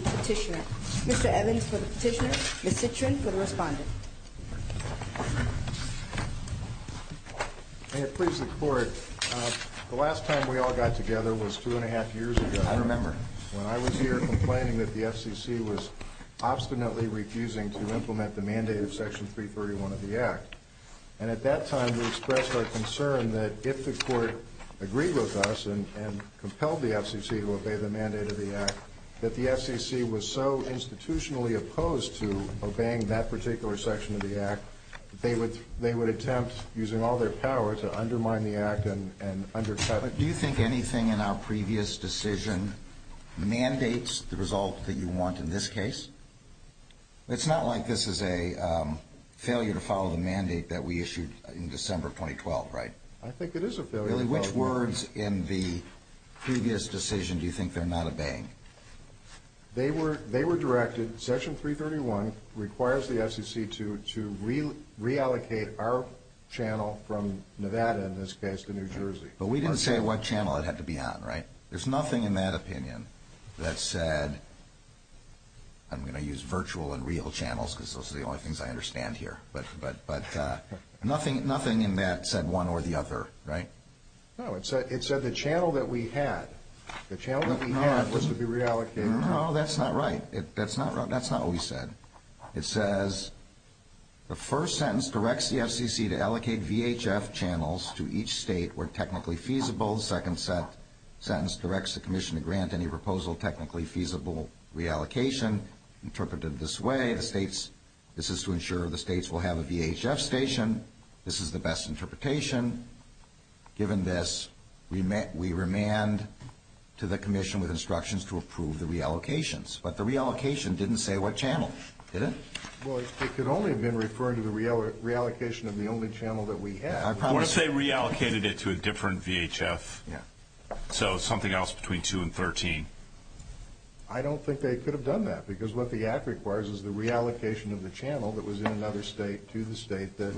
Petitioner. Mr. Evans for the Petitioner, Ms. Citrin for the Respondent. May it please the Court, the last time we all got together was two and a half years ago. I remember. When I was here complaining that the FCC was obstinately refusing to implement the mandate of Section 331 of the Act. And at that time we expressed our concern that if the Court agreed with us and compelled the FCC to obey the mandate of the Act, that the FCC was so institutionally opposed to obeying that particular section of the Act, that they would attempt, using all their power, to undermine the Act and undercut it. Do you think anything in our previous decision mandates the result that you want in this case? It's not like this is a failure to follow the mandate that we issued in December 2012, right? I think it is a failure. Which words in the previous decision do you think they're not obeying? They were directed, Section 331 requires the FCC to reallocate our channel from Nevada, in this case, to New Jersey. But we didn't say what channel it had to be on, right? There's nothing in that opinion that said, I'm going to use virtual and real channels because those are the only things I understand here, but nothing in that said one or the other, right? No, it said the channel that we had. The channel that we had was to be reallocated. No, that's not right. That's not what we said. It says the first sentence directs the FCC to allocate VHF channels to each state where technically feasible. The second sentence directs the commission to grant any proposal technically feasible reallocation interpreted this way. This is to ensure the states will have a VHF station. This is the best interpretation. Given this, we remand to the commission with instructions to approve the reallocations. But the reallocation didn't say what channel, did it? Well, it could only have been referring to the reallocation of the only channel that we had. What if they reallocated it to a different VHF, so something else between 2 and 13? I don't think they could have done that because what the act requires is the reallocation of the channel that was in another state to the state that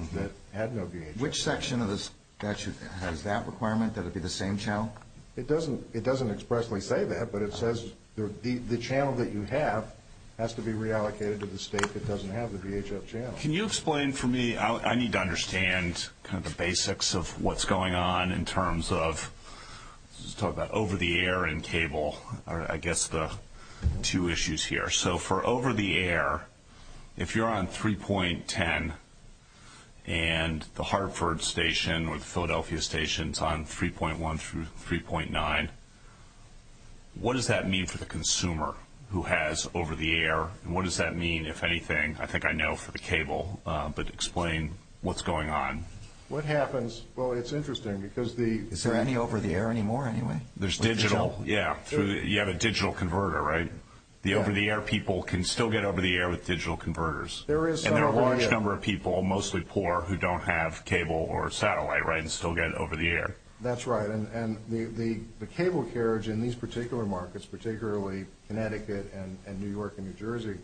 had no VHF. Which section of the statute has that requirement, that it be the same channel? It doesn't expressly say that, but it says the channel that you have has to be reallocated to the state that doesn't have the VHF channel. Can you explain for me, I need to understand the basics of what's going on in terms of over the air and cable, I guess the two issues here. So for over the air, if you're on 3.10 and the Hartford station or the Philadelphia station is on 3.1 through 3.9, what does that mean for the consumer who has over the air? What does that mean, if anything, I think I know for the cable, but explain what's going on. What happens, well it's interesting because the... Is there any over the air anymore anyway? There's digital, yeah, you have a digital converter, right? The over the air people can still get over the air with digital converters. And there are a large number of people, mostly poor, who don't have cable or satellite, right, and still get over the air. That's right, and the cable carriage in these particular markets, particularly Connecticut and New York and New Jersey,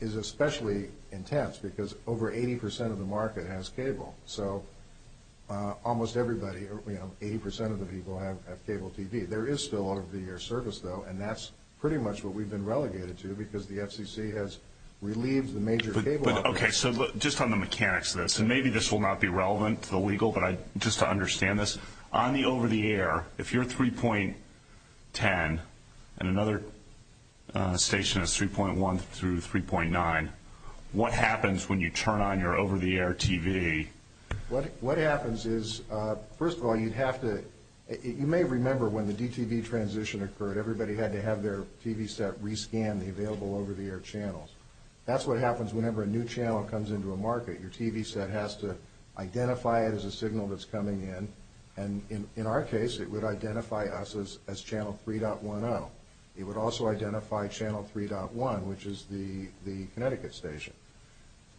is especially intense because over 80% of the market has cable. So almost everybody, 80% of the people have cable TV. There is still over the air service, though, and that's pretty much what we've been relegated to because the FCC has relieved the major cable operators. Okay, so just on the mechanics of this, and maybe this will not be relevant to the legal, but just to understand this, on the over the air, if you're 3.10 and another station is 3.1 through 3.9, what happens when you turn on your over the air TV? What happens is, first of all, you'd have to, you may remember when the DTV transition occurred, everybody had to have their TV set re-scanned, the available over the air channels. That's what happens whenever a new channel comes into a market. Your TV set has to identify it as a signal that's coming in, and in our case, it would identify us as channel 3.10. It would also identify channel 3.1, which is the Connecticut station,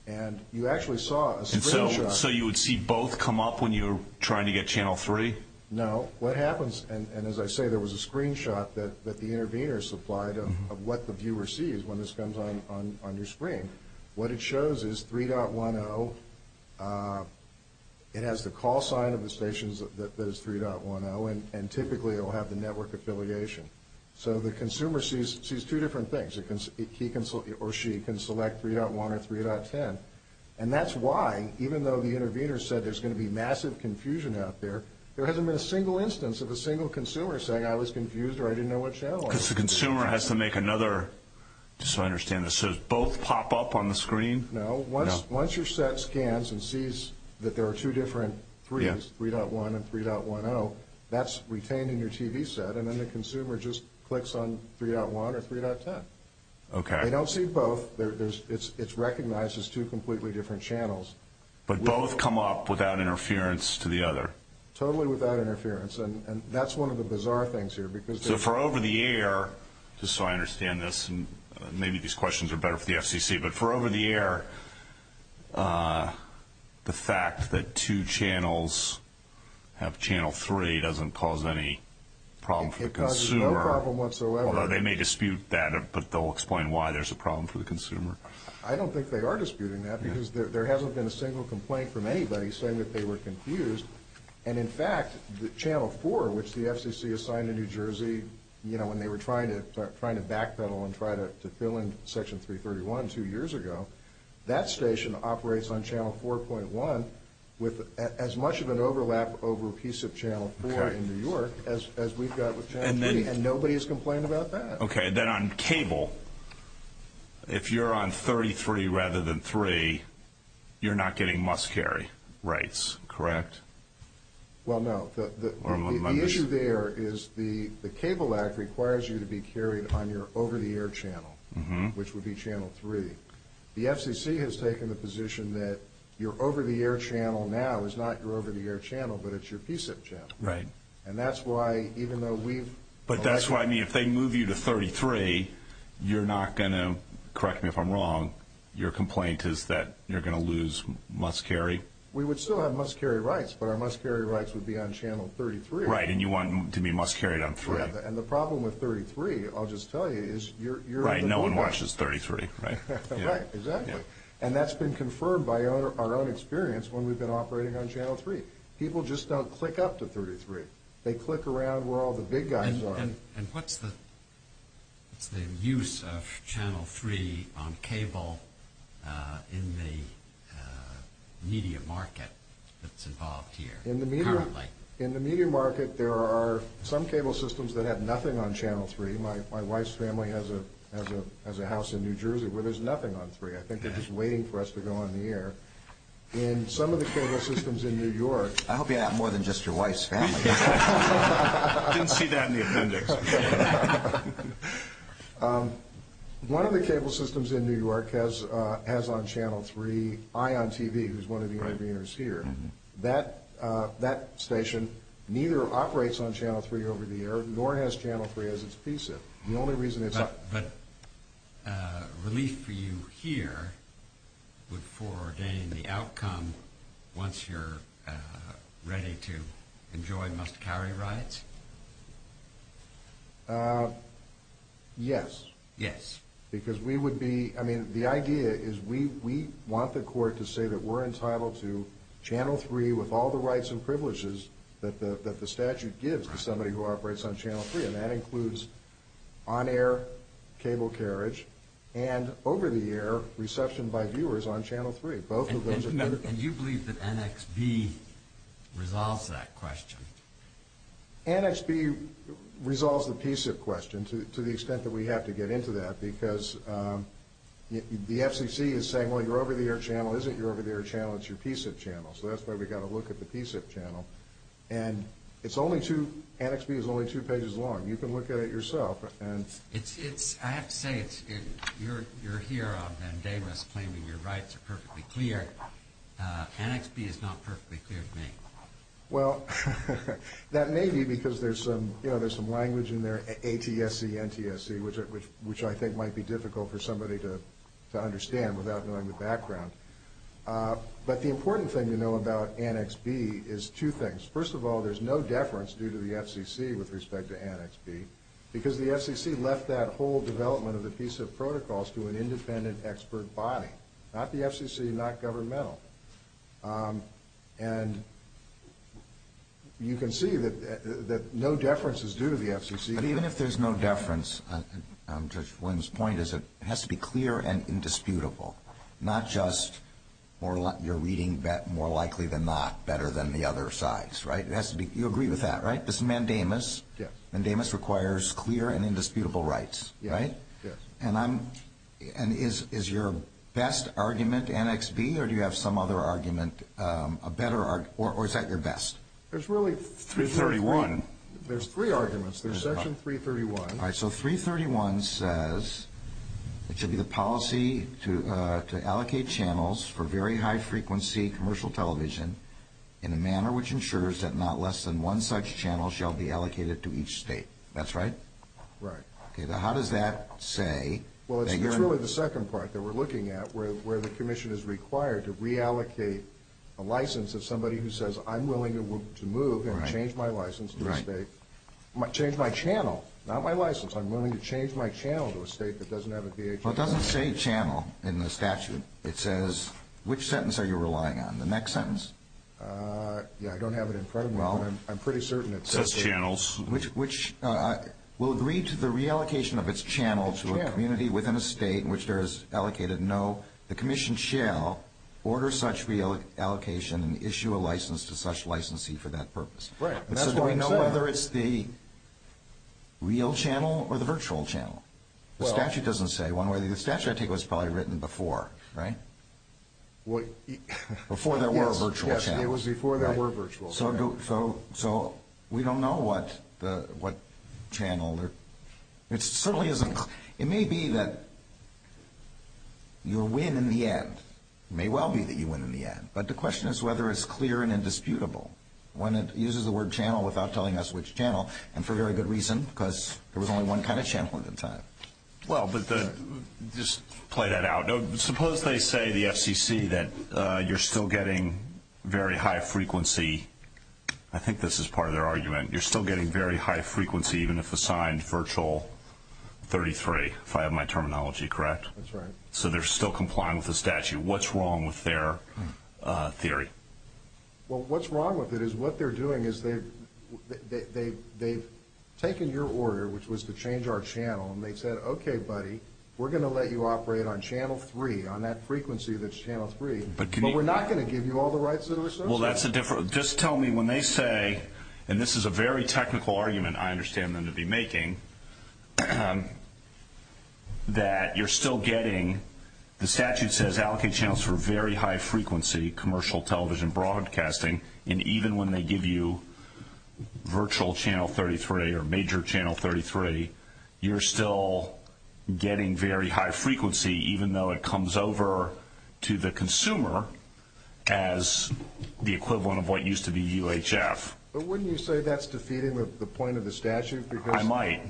and you actually saw a screen shot. So you would see both come up when you were trying to get channel 3? No. What happens, and as I say, there was a screen shot that the intervener supplied of what the viewer sees when this comes on your screen. What it shows is 3.10. It has the call sign of the stations that is 3.10, and typically it will have the network affiliation. So the consumer sees two different things. He or she can select 3.1 or 3.10, and that's why, even though the intervener said there's going to be massive confusion out there, there hasn't been a single instance of a single consumer saying, I was confused or I didn't know what channel. Because the consumer has to make another, just so I understand, both pop up on the screen? No. Once your set scans and sees that there are two different 3s, 3.1 and 3.10, that's retained in your TV set, and then the consumer just clicks on 3.1 or 3.10. Okay. They don't see both. It's recognized as two completely different channels. But both come up without interference to the other? Totally without interference. And that's one of the bizarre things here. So for over-the-air, just so I understand this, and maybe these questions are better for the FCC, but for over-the-air, the fact that two channels have channel three doesn't cause any problem for the consumer. It causes no problem whatsoever. Although they may dispute that, but they'll explain why there's a problem for the consumer. I don't think they are disputing that, because there hasn't been a single complaint from anybody saying that they were confused. And, in fact, channel four, which the FCC assigned to New Jersey, you know, when they were trying to backpedal and try to fill in section 331 two years ago, that station operates on channel 4.1 with as much of an overlap over a piece of channel four in New York as we've got with channel three, and nobody has complained about that. Okay, then on cable, if you're on 33 rather than three, you're not getting must-carry rights, correct? Well, no. The issue there is the Cable Act requires you to be carried on your over-the-air channel, which would be channel three. The FCC has taken the position that your over-the-air channel now is not your over-the-air channel, but it's your PSIP channel. Right. And that's why, even though we've... But that's why, I mean, if they move you to 33, you're not going to, correct me if I'm wrong, your complaint is that you're going to lose must-carry? We would still have must-carry rights, but our must-carry rights would be on channel 33. Right, and you want to be must-carried on three. And the problem with 33, I'll just tell you, is you're... Right, no one watches 33, right? Right, exactly. And that's been confirmed by our own experience when we've been operating on channel three. People just don't click up to 33. They click around where all the big guys are. And what's the use of channel three on cable in the media market that's involved here currently? In the media market, there are some cable systems that have nothing on channel three. My wife's family has a house in New Jersey where there's nothing on three. I think they're just waiting for us to go on the air. But in some of the cable systems in New York... I hope you have more than just your wife's family. I didn't see that in the appendix. One of the cable systems in New York has on channel three ION TV, who's one of the interveners here. That station neither operates on channel three over the air nor has channel three as its PCIP. But relief for you here would foreordain the outcome once you're ready to enjoy must-carry rights? Yes. Because we would be... I mean, the idea is we want the court to say that we're entitled to channel three with all the rights and privileges that the statute gives to somebody who operates on channel three. And that includes on-air cable carriage and over-the-air reception by viewers on channel three. Both of those are... And you believe that NXB resolves that question? NXB resolves the PCIP question to the extent that we have to get into that because the FCC is saying, well, your over-the-air channel isn't your over-the-air channel. It's your PCIP channel. So that's why we've got to look at the PCIP channel. And it's only two... NXB is only two pages long. You can look at it yourself. I have to say, you're here on Vandavis claiming your rights are perfectly clear. NXB is not perfectly clear to me. Well, that may be because there's some language in there, ATSC, NTSC, which I think might be difficult for somebody to understand without knowing the background. But the important thing to know about NXB is two things. First of all, there's no deference due to the FCC with respect to NXB because the FCC left that whole development of the PCIP protocols to an independent expert body, not the FCC, not governmental. And you can see that no deference is due to the FCC. But even if there's no deference, Judge Williams' point is it has to be clear and indisputable, not just you're reading more likely than not better than the other sides, right? You agree with that, right? This mandamus requires clear and indisputable rights, right? Yes. And is your best argument NXB or do you have some other argument, a better argument, or is that your best? There's really 331. There's three arguments. There's Section 331. All right. So 331 says it should be the policy to allocate channels for very high-frequency commercial television in a manner which ensures that not less than one such channel shall be allocated to each state. That's right? Right. Okay. Now, how does that say? Well, it's really the second part that we're looking at where the commission is required to reallocate a license of somebody who says I'm willing to move and change my license to a state, change my channel, not my license. I'm willing to change my channel to a state that doesn't have a VHS. Well, it doesn't say channel in the statute. It says which sentence are you relying on, the next sentence? Yeah, I don't have it in front of me, but I'm pretty certain it says it. It says channels. Which will read to the reallocation of its channel to a community within a state in which there is allocated no, the commission shall order such reallocation and issue a license to such licensee for that purpose. Right. So do we know whether it's the real channel or the virtual channel? The statute doesn't say. The statute, I take it, was probably written before, right? Before there were virtual channels. Yes, it was before there were virtual channels. So we don't know what channel. It certainly isn't. It may be that you'll win in the end. It may well be that you win in the end. But the question is whether it's clear and indisputable when it uses the word channel without telling us which channel, and for very good reason because there was only one kind of channel at the time. Well, but just play that out. Suppose they say, the FCC, that you're still getting very high frequency. I think this is part of their argument. You're still getting very high frequency even if assigned virtual 33, if I have my terminology correct. That's right. So they're still complying with the statute. What's wrong with their theory? Well, what's wrong with it is what they're doing is they've taken your order, which was to change our channel, and they said, okay, buddy, we're going to let you operate on channel 3, on that frequency that's channel 3, but we're not going to give you all the rights that are associated. Well, that's a different – just tell me when they say, and this is a very technical argument I understand them to be making, that you're still getting – the statute says allocate channels for very high frequency commercial television broadcasting, and even when they give you virtual channel 33 or major channel 33, you're still getting very high frequency even though it comes over to the consumer as the equivalent of what used to be UHF. But wouldn't you say that's defeating the point of the statute? I might.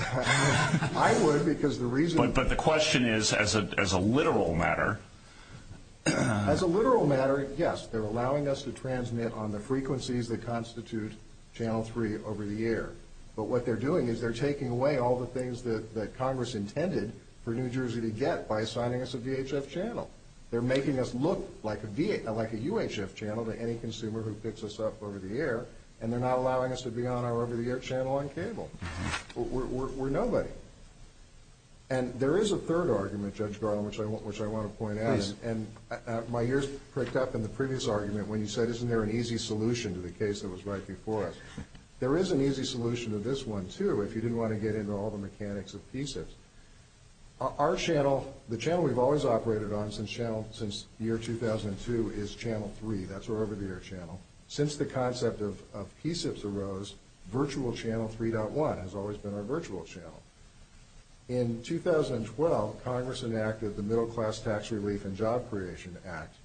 I would because the reason – But the question is as a literal matter. As a literal matter, yes, they're allowing us to transmit on the frequencies that constitute channel 3 over the air, but what they're doing is they're taking away all the things that Congress intended for New Jersey to get by assigning us a VHF channel. They're making us look like a UHF channel to any consumer who picks us up over the air, and they're not allowing us to be on our over-the-air channel on cable. We're nobody. And there is a third argument, Judge Garland, which I want to point out. Please. And my ears pricked up in the previous argument when you said, isn't there an easy solution to the case that was right before us? There is an easy solution to this one, too, if you didn't want to get into all the mechanics of PSIPS. Our channel, the channel we've always operated on since year 2002, is channel 3. That's our over-the-air channel. Since the concept of PSIPS arose, virtual channel 3.1 has always been our virtual channel. In 2012, Congress enacted the Middle Class Tax Relief and Job Creation Act,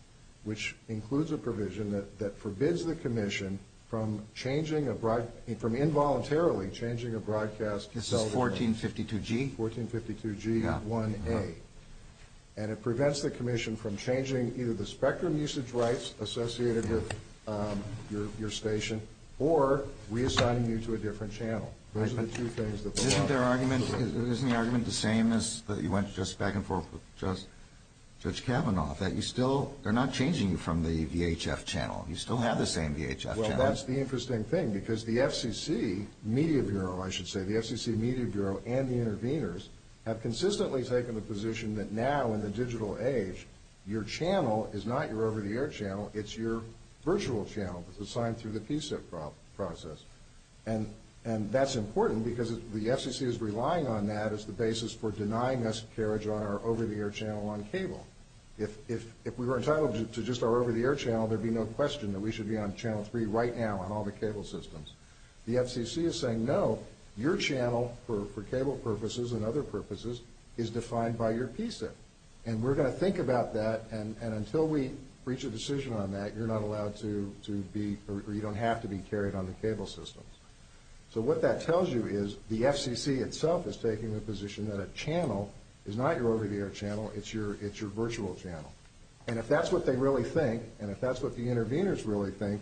which includes a provision that forbids the commission from involuntarily changing a broadcast television. This is 1452G? 1452G1A. And it prevents the commission from changing either the spectrum usage rights associated with your station or reassigning you to a different channel. Those are the two things that they want. Isn't the argument the same as you went back and forth with Judge Kavanaugh, that you still are not changing from the VHF channel? You still have the same VHF channel. Well, that's the interesting thing, because the FCC Media Bureau, I should say, the FCC Media Bureau and the interveners have consistently taken the position that now in the digital age, your channel is not your over-the-air channel. It's your virtual channel that's assigned through the PSIP process. And that's important because the FCC is relying on that as the basis for denying us carriage on our over-the-air channel on cable. If we were entitled to just our over-the-air channel, there would be no question that we should be on channel 3 right now on all the cable systems. The FCC is saying, no, your channel for cable purposes and other purposes is defined by your PSIP. And we're going to think about that, and until we reach a decision on that, you're not allowed to be or you don't have to be carried on the cable systems. So what that tells you is the FCC itself is taking the position that a channel is not your over-the-air channel, it's your virtual channel. And if that's what they really think, and if that's what the interveners really think,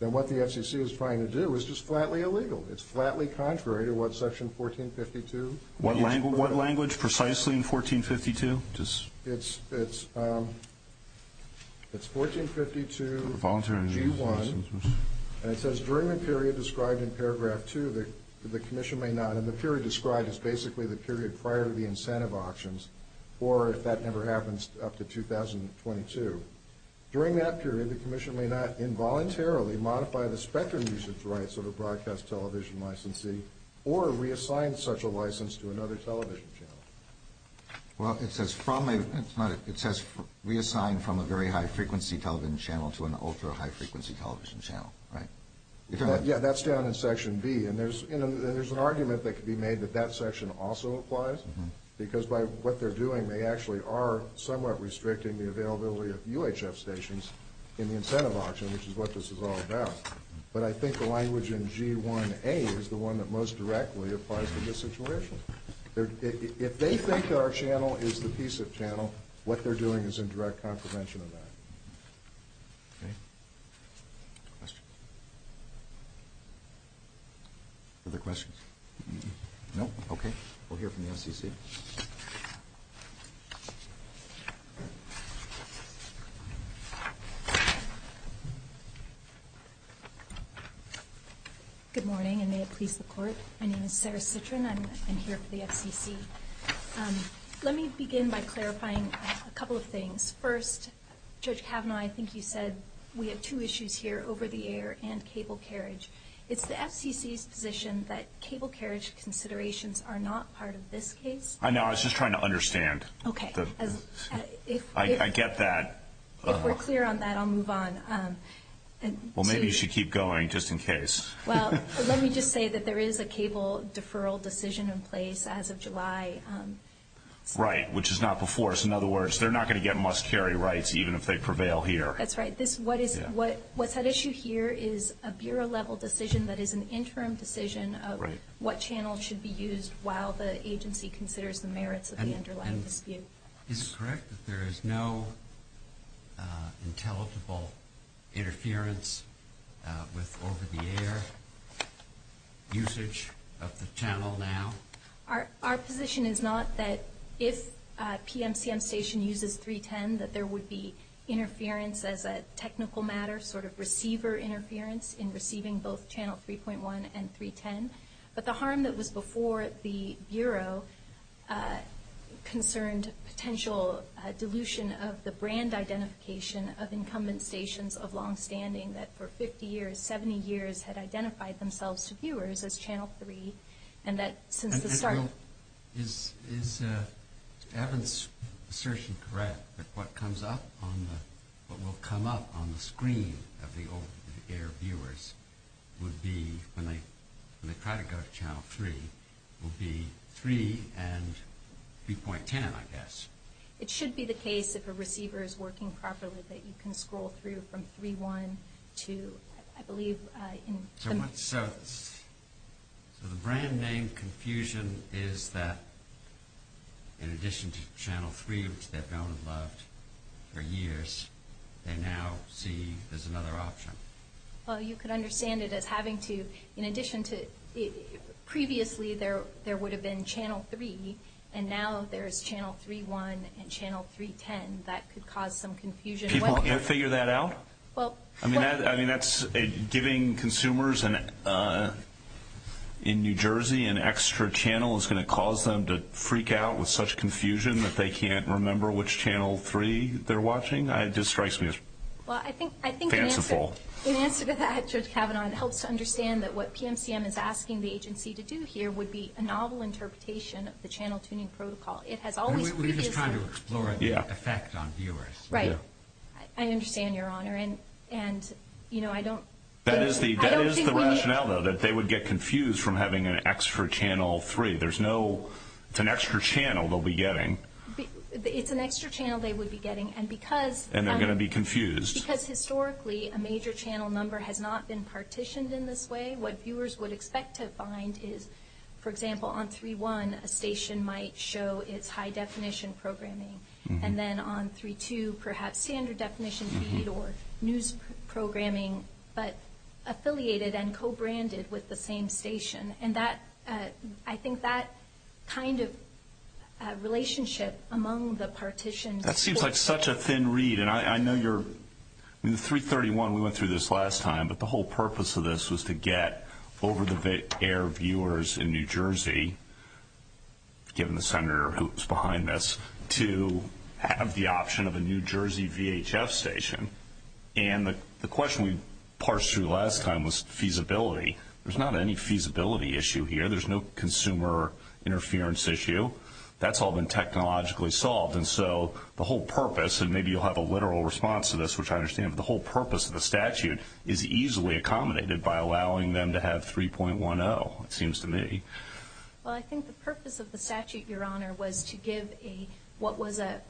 then what the FCC is trying to do is just flatly illegal. It's flatly contrary to what section 1452? What language precisely in 1452? It's 1452 G1, and it says during the period described in paragraph 2, the commission may not, and the period described is basically the period prior to the incentive auctions, or if that ever happens, up to 2022. During that period, the commission may not involuntarily modify the spectrum user's rights of a broadcast television licensee or reassign such a license to another television channel. Well, it says reassign from a very high-frequency television channel to an ultra-high-frequency television channel, right? Yeah, that's down in section B, and there's an argument that could be made that that section also applies, because by what they're doing, they actually are somewhat restricting the availability of UHF stations in the incentive auction, which is what this is all about. But I think the language in G1A is the one that most directly applies to this situation. If they think our channel is the PCIF channel, what they're doing is in direct contravention of that. Okay. Questions? Other questions? No? Okay. We'll hear from the FCC. Good morning, and may it please the Court. My name is Sarah Citrin. I'm here for the FCC. Let me begin by clarifying a couple of things. First, Judge Kavanaugh, I think you said we have two issues here, over-the-air and cable carriage. It's the FCC's position that cable carriage considerations are not part of this case. I know. I was just trying to understand. Okay. I get that. If we're clear on that, I'll move on. Well, maybe you should keep going, just in case. Well, let me just say that there is a cable deferral decision in place as of July. Right, which is not before us. In other words, they're not going to get must-carry rights, even if they prevail here. That's right. What's at issue here is a Bureau-level decision that is an interim decision of what channel should be used while the agency considers the merits of the underlying dispute. Is it correct that there is no intelligible interference with over-the-air usage of the channel now? Our position is not that if PMCM Station uses 310, that there would be interference as a technical matter, sort of receiver interference in receiving both channel 3.1 and 310. But the harm that was before the Bureau concerned potential dilution of the brand identification of incumbent stations of longstanding that for 50 years, 70 years, had identified themselves to viewers as channel 3, and that since the start... Is Evan's assertion correct that what will come up on the screen of the over-the-air viewers would be, when they try to go to channel 3, would be 3 and 3.10, I guess? It should be the case if a receiver is working properly that you can scroll through from 3.1 to, I believe... So the brand name confusion is that in addition to channel 3, which they've known and loved for years, they now see as another option. Well, you could understand it as having to, in addition to, previously there would have been channel 3, and now there's channel 3.1 and channel 3.10. That could cause some confusion. People can't figure that out? I mean, giving consumers in New Jersey an extra channel is going to cause them to freak out with such confusion that they can't remember which channel 3 they're watching? It just strikes me as fanciful. In answer to that, Judge Kavanaugh, it helps to understand that what PMCM is asking the agency to do here would be a novel interpretation of the channel tuning protocol. It has always previously... We're just trying to explore an effect on viewers. Right. I understand, Your Honor, and, you know, I don't... That is the rationale, though, that they would get confused from having an extra channel 3. There's no... It's an extra channel they'll be getting. It's an extra channel they would be getting, and because... And they're going to be confused. Because historically, a major channel number has not been partitioned in this way. What viewers would expect to find is, for example, on 3.1, a station might show its high-definition programming, and then on 3.2, perhaps standard-definition feed or news programming, but affiliated and co-branded with the same station. And I think that kind of relationship among the partitions... That seems like such a thin read, and I know you're... In the 3.31, we went through this last time, but the whole purpose of this was to get over-the-air viewers in New Jersey, given the senator who's behind this, to have the option of a New Jersey VHF station. And the question we parsed through last time was feasibility. There's not any feasibility issue here. There's no consumer interference issue. That's all been technologically solved. And so the whole purpose, and maybe you'll have a literal response to this, which I understand, but the whole purpose of the statute is easily accommodated by allowing them to have 3.10, it seems to me. Well, I think the purpose of the statute, Your Honor, was to give what was a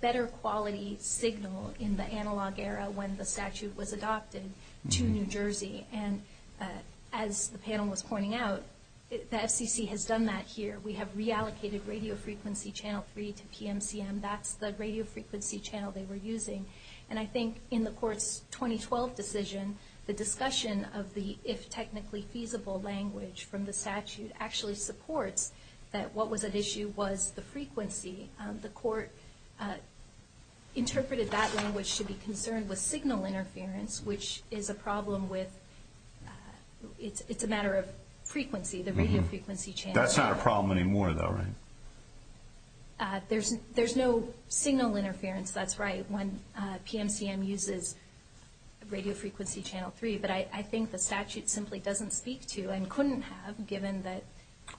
better quality signal in the analog era when the statute was adopted to New Jersey. And as the panel was pointing out, the FCC has done that here. We have reallocated radio frequency channel 3 to PMCM. That's the radio frequency channel they were using. And I think in the court's 2012 decision, the discussion of the if technically feasible language from the statute actually supports that what was at issue was the frequency. The court interpreted that language to be concerned with signal interference, which is a problem with it's a matter of frequency, the radio frequency channel. That's not a problem anymore, though, right? There's no signal interference. That's right, when PMCM uses radio frequency channel 3. But I think the statute simply doesn't speak to and couldn't have given that.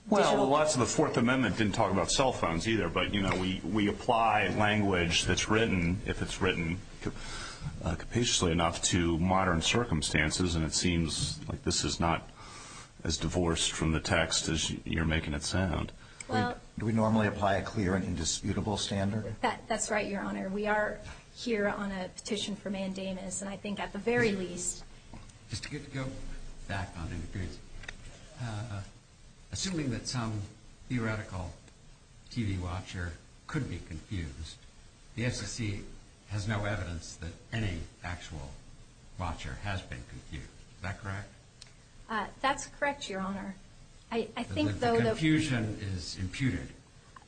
Well, the fourth amendment didn't talk about cell phones either, but we apply language that's written, if it's written capaciously enough, to modern circumstances, and it seems like this is not as divorced from the text as you're making it sound. Do we normally apply a clear and indisputable standard? That's right, Your Honor. We are here on a petition for mandamus, and I think at the very least. Just to get to go back on interference, assuming that some theoretical TV watcher could be confused, the FCC has no evidence that any actual watcher has been confused. Is that correct? That's correct, Your Honor. The confusion is imputed.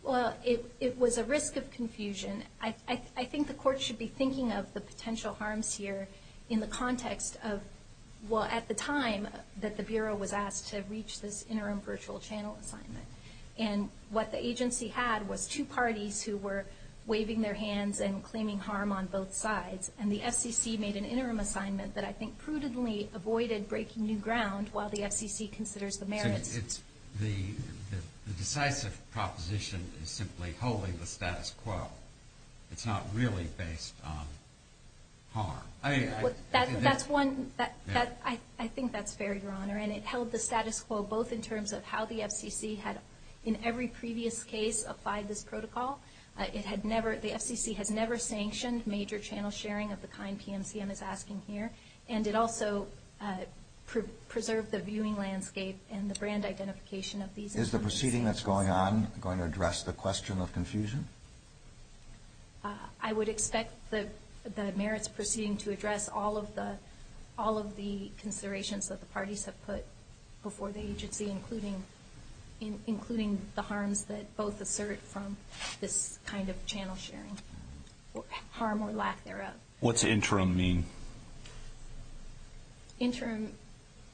Well, it was a risk of confusion. I think the Court should be thinking of the potential harms here in the context of, well, at the time that the Bureau was asked to reach this interim virtual channel assignment, and what the agency had was two parties who were waving their hands and claiming harm on both sides, and the FCC made an interim assignment that I think prudently avoided breaking new ground while the FCC considers the merits. The decisive proposition is simply holding the status quo. It's not really based on harm. I think that's fair, Your Honor, and it held the status quo both in terms of how the FCC had in every previous case applied this protocol. The FCC has never sanctioned major channel sharing of the kind PMCM is asking here, and it also preserved the viewing landscape and the brand identification of these. Is the proceeding that's going on going to address the question of confusion? I would expect the merits proceeding to address all of the considerations that the parties have put before the agency, including the harms that both assert from this kind of channel sharing, harm or lack thereof. What's interim mean? Do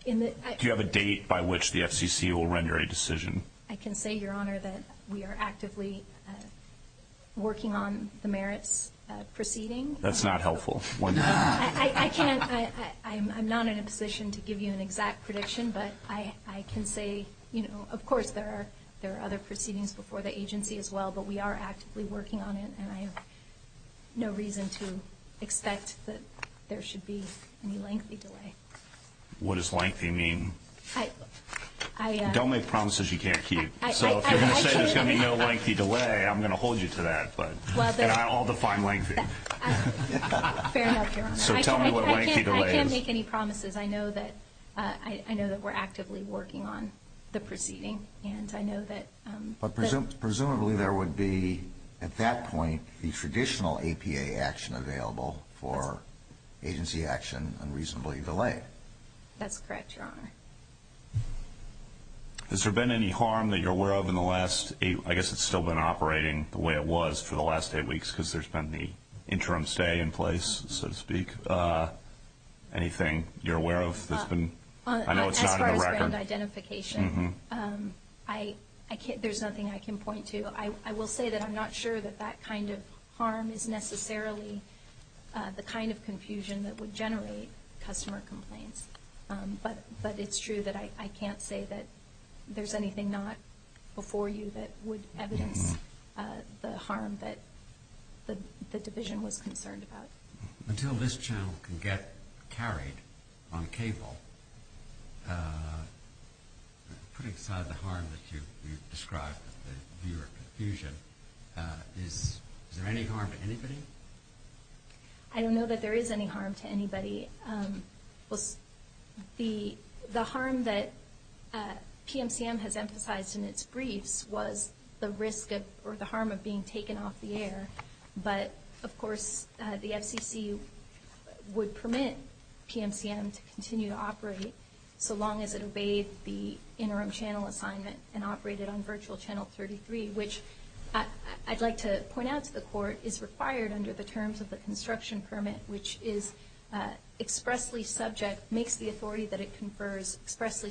you have a date by which the FCC will render a decision? I can say, Your Honor, that we are actively working on the merits proceeding. That's not helpful. I'm not in a position to give you an exact prediction, but I can say, you know, of course there are other proceedings before the agency as well, but we are actively working on it, and I have no reason to expect that there should be any lengthy delay. What does lengthy mean? Don't make promises you can't keep. So if you're going to say there's going to be no lengthy delay, I'm going to hold you to that, and I'll define lengthy. Fair enough, Your Honor. So tell me what lengthy delay is. I can't make any promises. I know that we're actively working on the proceeding. But presumably there would be, at that point, the traditional APA action available for agency action unreasonably delayed. That's correct, Your Honor. Has there been any harm that you're aware of in the last, I guess it's still been operating the way it was for the last eight weeks because there's been the interim stay in place, so to speak? Anything you're aware of that's been? As far as brand identification, there's nothing I can point to. I will say that I'm not sure that that kind of harm is necessarily the kind of confusion that would generate customer complaints, but it's true that I can't say that there's anything not before you that would evidence the harm that the division was concerned about. Until this channel can get carried on cable, putting aside the harm that you've described of your confusion, is there any harm to anybody? I don't know that there is any harm to anybody. The harm that PMCM has emphasized in its briefs was the risk or the harm of being taken off the air. But, of course, the FCC would permit PMCM to continue to operate so long as it obeyed the interim channel assignment and operated on virtual channel 33, which I'd like to point out to the Court is required under the terms of the construction permit, which is expressly subject, makes the authority that it confers expressly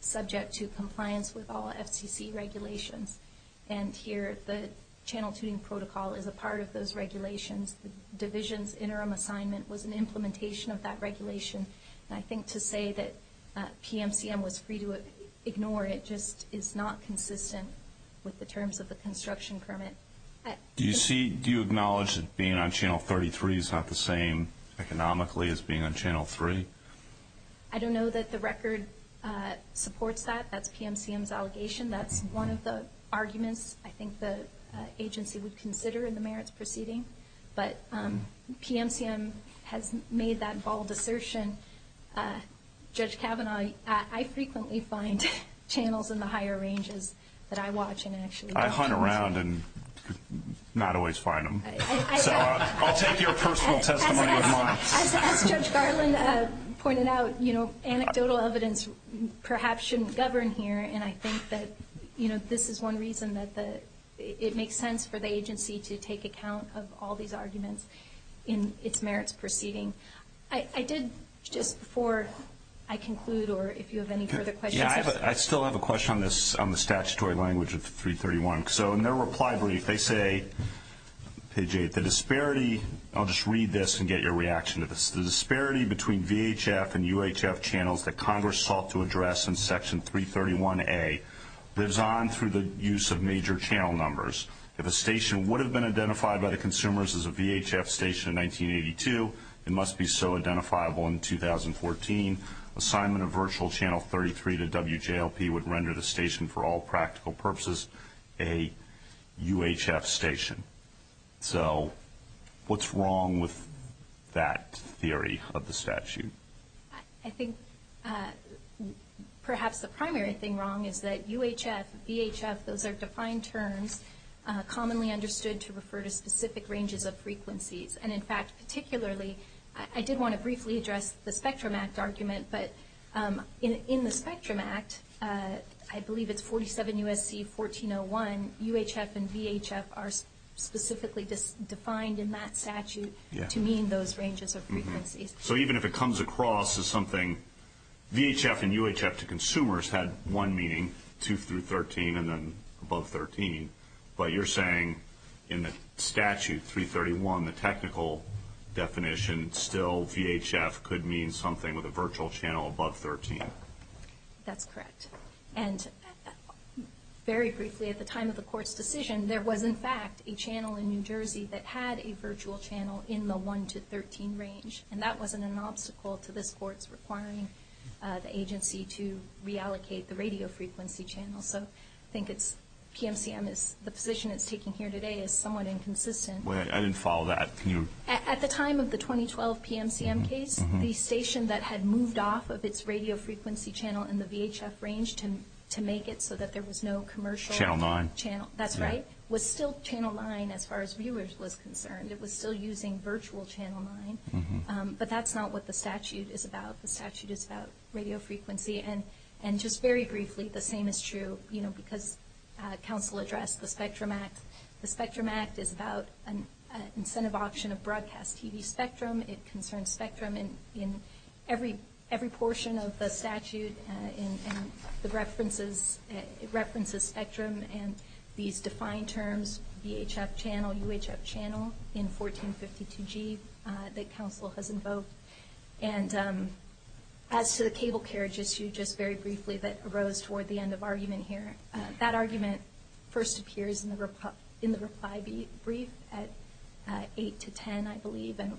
subject to compliance with all FCC regulations. And here the channel tuning protocol is a part of those regulations. The division's interim assignment was an implementation of that regulation. And I think to say that PMCM was free to ignore it just is not consistent with the terms of the construction permit. Do you acknowledge that being on channel 33 is not the same economically as being on channel 3? I don't know that the record supports that. That's PMCM's allegation. That's one of the arguments I think the agency would consider in the merits proceeding. But PMCM has made that bold assertion. Judge Kavanaugh, I frequently find channels in the higher ranges that I watch and actually don't use. I hunt around and not always find them. So I'll take your personal testimony as mine. As Judge Garland pointed out, anecdotal evidence perhaps shouldn't govern here. And I think that, you know, this is one reason that it makes sense for the agency to take account of all these arguments in its merits proceeding. I did just before I conclude or if you have any further questions. Yeah, I still have a question on this, on the statutory language of 331. So in their reply brief they say, page 8, the disparity, I'll just read this and get your reaction to this, the disparity between VHF and UHF channels that Congress sought to address in Section 331A lives on through the use of major channel numbers. If a station would have been identified by the consumers as a VHF station in 1982, it must be so identifiable in 2014. Assignment of virtual channel 33 to WJLP would render the station for all practical purposes a UHF station. So what's wrong with that theory of the statute? I think perhaps the primary thing wrong is that UHF, VHF, those are defined terms commonly understood to refer to specific ranges of frequencies. And, in fact, particularly I did want to briefly address the Spectrum Act argument, but in the Spectrum Act, I believe it's 47 U.S.C. 1401, UHF and VHF are specifically defined in that statute to mean those ranges of frequencies. So even if it comes across as something VHF and UHF to consumers had one meaning, 2 through 13 and then above 13, but you're saying in the statute 331, the technical definition, still VHF could mean something with a virtual channel above 13. That's correct. And very briefly, at the time of the Court's decision, there was, in fact, a channel in New Jersey that had a virtual channel in the 1 to 13 range, and that wasn't an obstacle to this Court's requiring the agency to reallocate the radio frequency channel. So I think PMCM, the position it's taking here today, is somewhat inconsistent. I didn't follow that. At the time of the 2012 PMCM case, the station that had moved off of its radio frequency channel in the VHF range to make it so that there was no commercial channel, that's right, was still channel 9 as far as viewers was concerned. It was still using virtual channel 9. But that's not what the statute is about. The statute is about radio frequency. And just very briefly, the same is true, you know, because counsel addressed the Spectrum Act. The Spectrum Act is about an incentive option of broadcast TV spectrum. It concerns spectrum in every portion of the statute, and it references spectrum and these defined terms, VHF channel, UHF channel, in 1452G that counsel has invoked. And as to the cable carriage issue, just very briefly, that arose toward the end of argument here, and that argument first appears in the reply brief at 8 to 10, I believe. And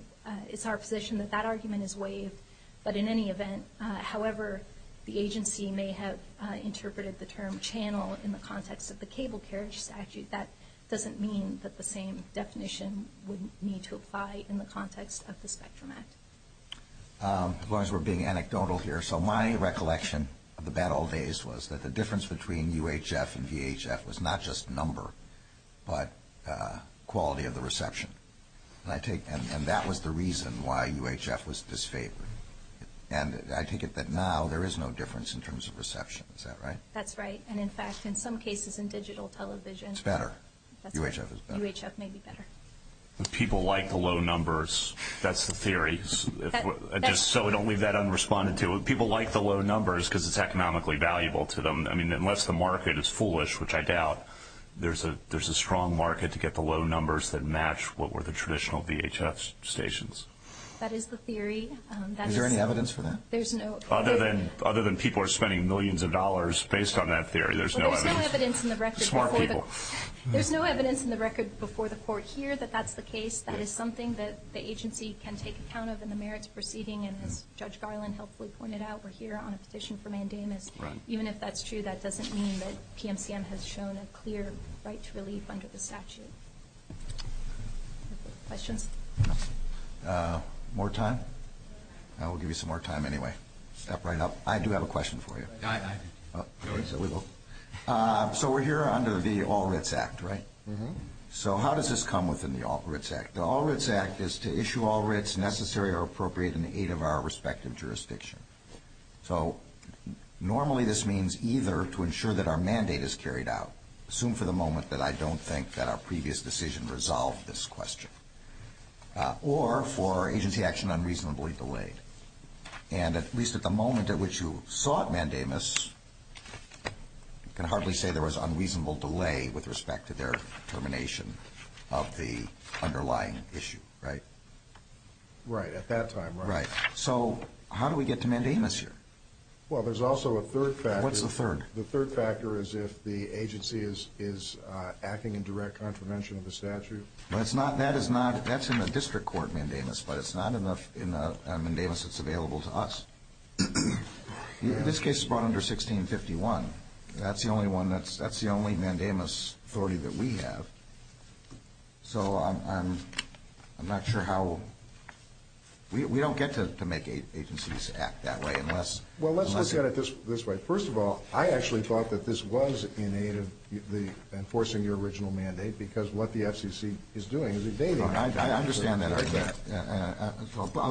it's our position that that argument is waived. But in any event, however the agency may have interpreted the term channel in the context of the cable carriage statute, that doesn't mean that the same definition would need to apply in the context of the Spectrum Act. As long as we're being anecdotal here. So my recollection of the bad old days was that the difference between UHF and VHF was not just number, but quality of the reception. And that was the reason why UHF was disfavored. And I take it that now there is no difference in terms of reception. Is that right? That's right. And, in fact, in some cases in digital television. It's better. UHF is better. UHF may be better. People like the low numbers. That's the theory. Just so we don't leave that unresponded, too. People like the low numbers because it's economically valuable to them. I mean, unless the market is foolish, which I doubt, there's a strong market to get the low numbers that match what were the traditional VHF stations. That is the theory. Is there any evidence for that? Other than people are spending millions of dollars based on that theory, there's no evidence. Well, there's no evidence in the record before the court here that that's the case. That is something that the agency can take account of in the merits proceeding. And as Judge Garland helpfully pointed out, we're here on a petition for mandamus. Right. Even if that's true, that doesn't mean that PMCM has shown a clear right to relief under the statute. Questions? More time? I will give you some more time anyway. Step right up. I do have a question for you. I do. So we will. So we're here under the All Writs Act, right? Mm-hmm. So how does this come within the All Writs Act? The All Writs Act is to issue all writs necessary or appropriate in the aid of our respective jurisdiction. So normally this means either to ensure that our mandate is carried out, assume for the moment that I don't think that our previous decision resolved this question, or for agency action unreasonably delayed. And at least at the moment at which you sought mandamus, you can hardly say there was unreasonable delay with respect to their termination of the underlying issue, right? Right. At that time, right. Right. So how do we get to mandamus here? Well, there's also a third factor. What's the third? The third factor is if the agency is acting in direct contravention of the statute. Well, it's not. That is not. That's in the district court mandamus, but it's not in the mandamus that's available to us. This case is brought under 1651. That's the only one that's the only mandamus authority that we have. So I'm not sure how we don't get to make agencies act that way unless. Well, let's look at it this way. First of all, I actually thought that this was in aid of enforcing your original mandate because what the FCC is doing is evading. I understand that argument. I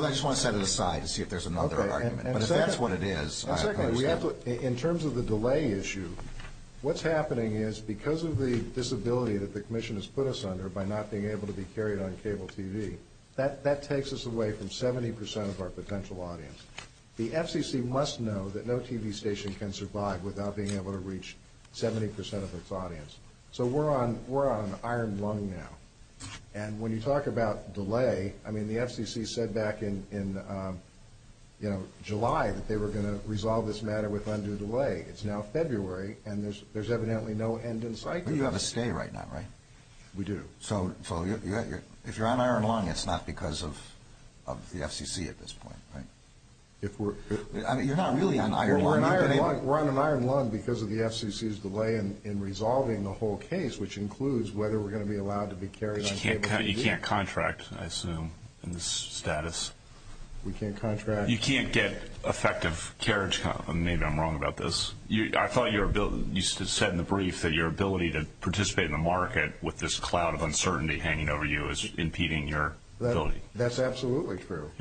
just want to set it aside to see if there's another argument. But if that's what it is, I understand. And secondly, in terms of the delay issue, what's happening is because of the disability that the commission has put us under by not being able to be carried on cable TV, that takes us away from 70 percent of our potential audience. The FCC must know that no TV station can survive without being able to reach 70 percent of its audience. So we're on an iron lung now. And when you talk about delay, I mean, the FCC said back in July that they were going to resolve this matter with undue delay. It's now February, and there's evidently no end in sight. But you have a stay right now, right? We do. So if you're on iron lung, it's not because of the FCC at this point, right? I mean, you're not really on iron lung. We're on an iron lung because of the FCC's delay in resolving the whole case, which includes whether we're going to be allowed to be carried on cable TV. You can't contract, I assume, in this status. We can't contract. You can't get effective carriage. Maybe I'm wrong about this. I thought you said in the brief that your ability to participate in the market with this cloud of uncertainty hanging over you is impeding your ability. That's absolutely true.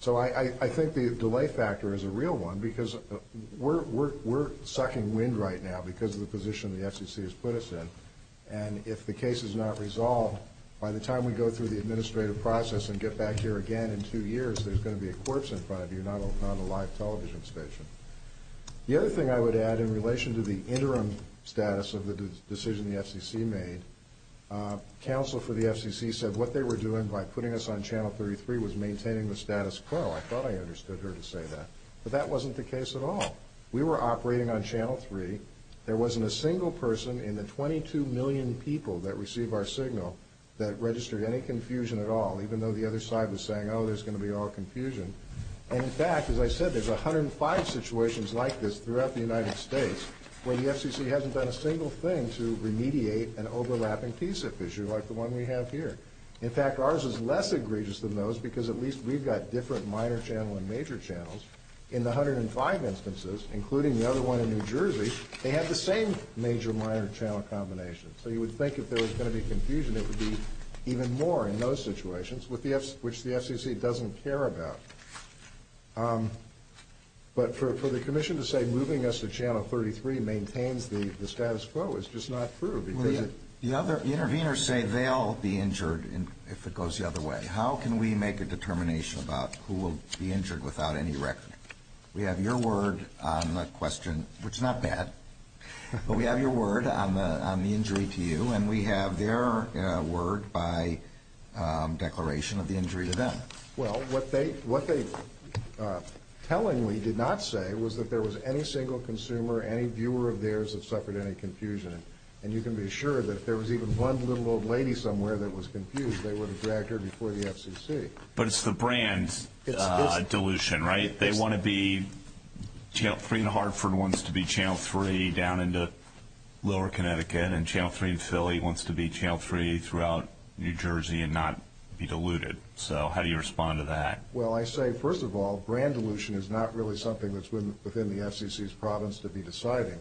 So I think the delay factor is a real one because we're sucking wind right now because of the position the FCC has put us in. And if the case is not resolved, by the time we go through the administrative process and get back here again in two years, there's going to be a corpse in front of you, not a live television station. The other thing I would add in relation to the interim status of the decision the FCC made, counsel for the FCC said what they were doing by putting us on Channel 33 was maintaining the status quo. I thought I understood her to say that. But that wasn't the case at all. We were operating on Channel 3. There wasn't a single person in the 22 million people that receive our signal that registered any confusion at all, even though the other side was saying, oh, there's going to be all confusion. And, in fact, as I said, there's 105 situations like this throughout the United States where the FCC hasn't done a single thing to remediate an overlapping PSIF issue like the one we have here. In fact, ours is less egregious than those because at least we've got different minor channel and major channels. In the 105 instances, including the other one in New Jersey, they have the same major-minor channel combination. So you would think if there was going to be confusion, it would be even more in those situations, which the FCC doesn't care about. But for the commission to say moving us to Channel 33 maintains the status quo is just not true. The other interveners say they'll be injured if it goes the other way. How can we make a determination about who will be injured without any record? We have your word on the question, which is not bad, but we have your word on the injury to you, and we have their word by declaration of the injury to them. Well, what they tellingly did not say was that there was any single consumer, any viewer of theirs that suffered any confusion. And you can be sure that if there was even one little old lady somewhere that was confused, they would have dragged her before the FCC. But it's the brand dilution, right? Channel 3 in Hartford wants to be Channel 3 down into lower Connecticut, and Channel 3 in Philly wants to be Channel 3 throughout New Jersey and not be diluted. So how do you respond to that? Well, I say, first of all, brand dilution is not really something that's within the FCC's province to be deciding.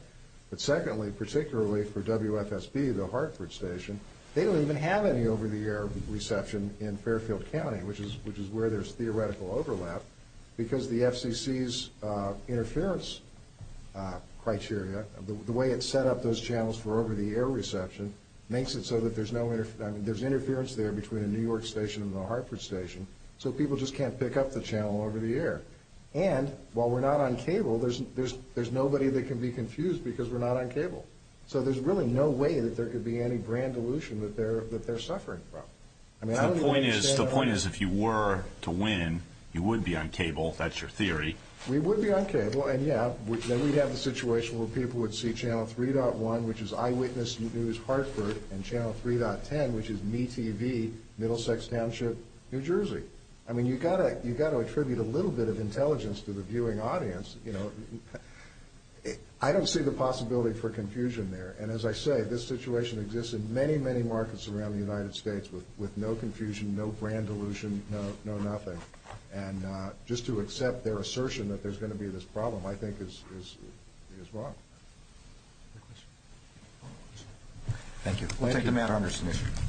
But secondly, particularly for WFSB, the Hartford station, they don't even have any over-the-air reception in Fairfield County, which is where there's theoretical overlap, because the FCC's interference criteria, the way it set up those channels for over-the-air reception, makes it so that there's interference there between a New York station and a Hartford station, so people just can't pick up the channel over the air. And while we're not on cable, there's nobody that can be confused because we're not on cable. So there's really no way that there could be any brand dilution that they're suffering from. The point is, if you were to win, you would be on cable. That's your theory. We would be on cable, and, yeah, then we'd have the situation where people would see Channel 3.1, which is Eyewitness News Hartford, and Channel 3.10, which is MeTV, Middlesex Township, New Jersey. I mean, you've got to attribute a little bit of intelligence to the viewing audience. I don't see the possibility for confusion there. And as I say, this situation exists in many, many markets around the United States with no confusion, no brand dilution, no nothing. And just to accept their assertion that there's going to be this problem, I think, is wrong. Thank you. Thank you, Congressman.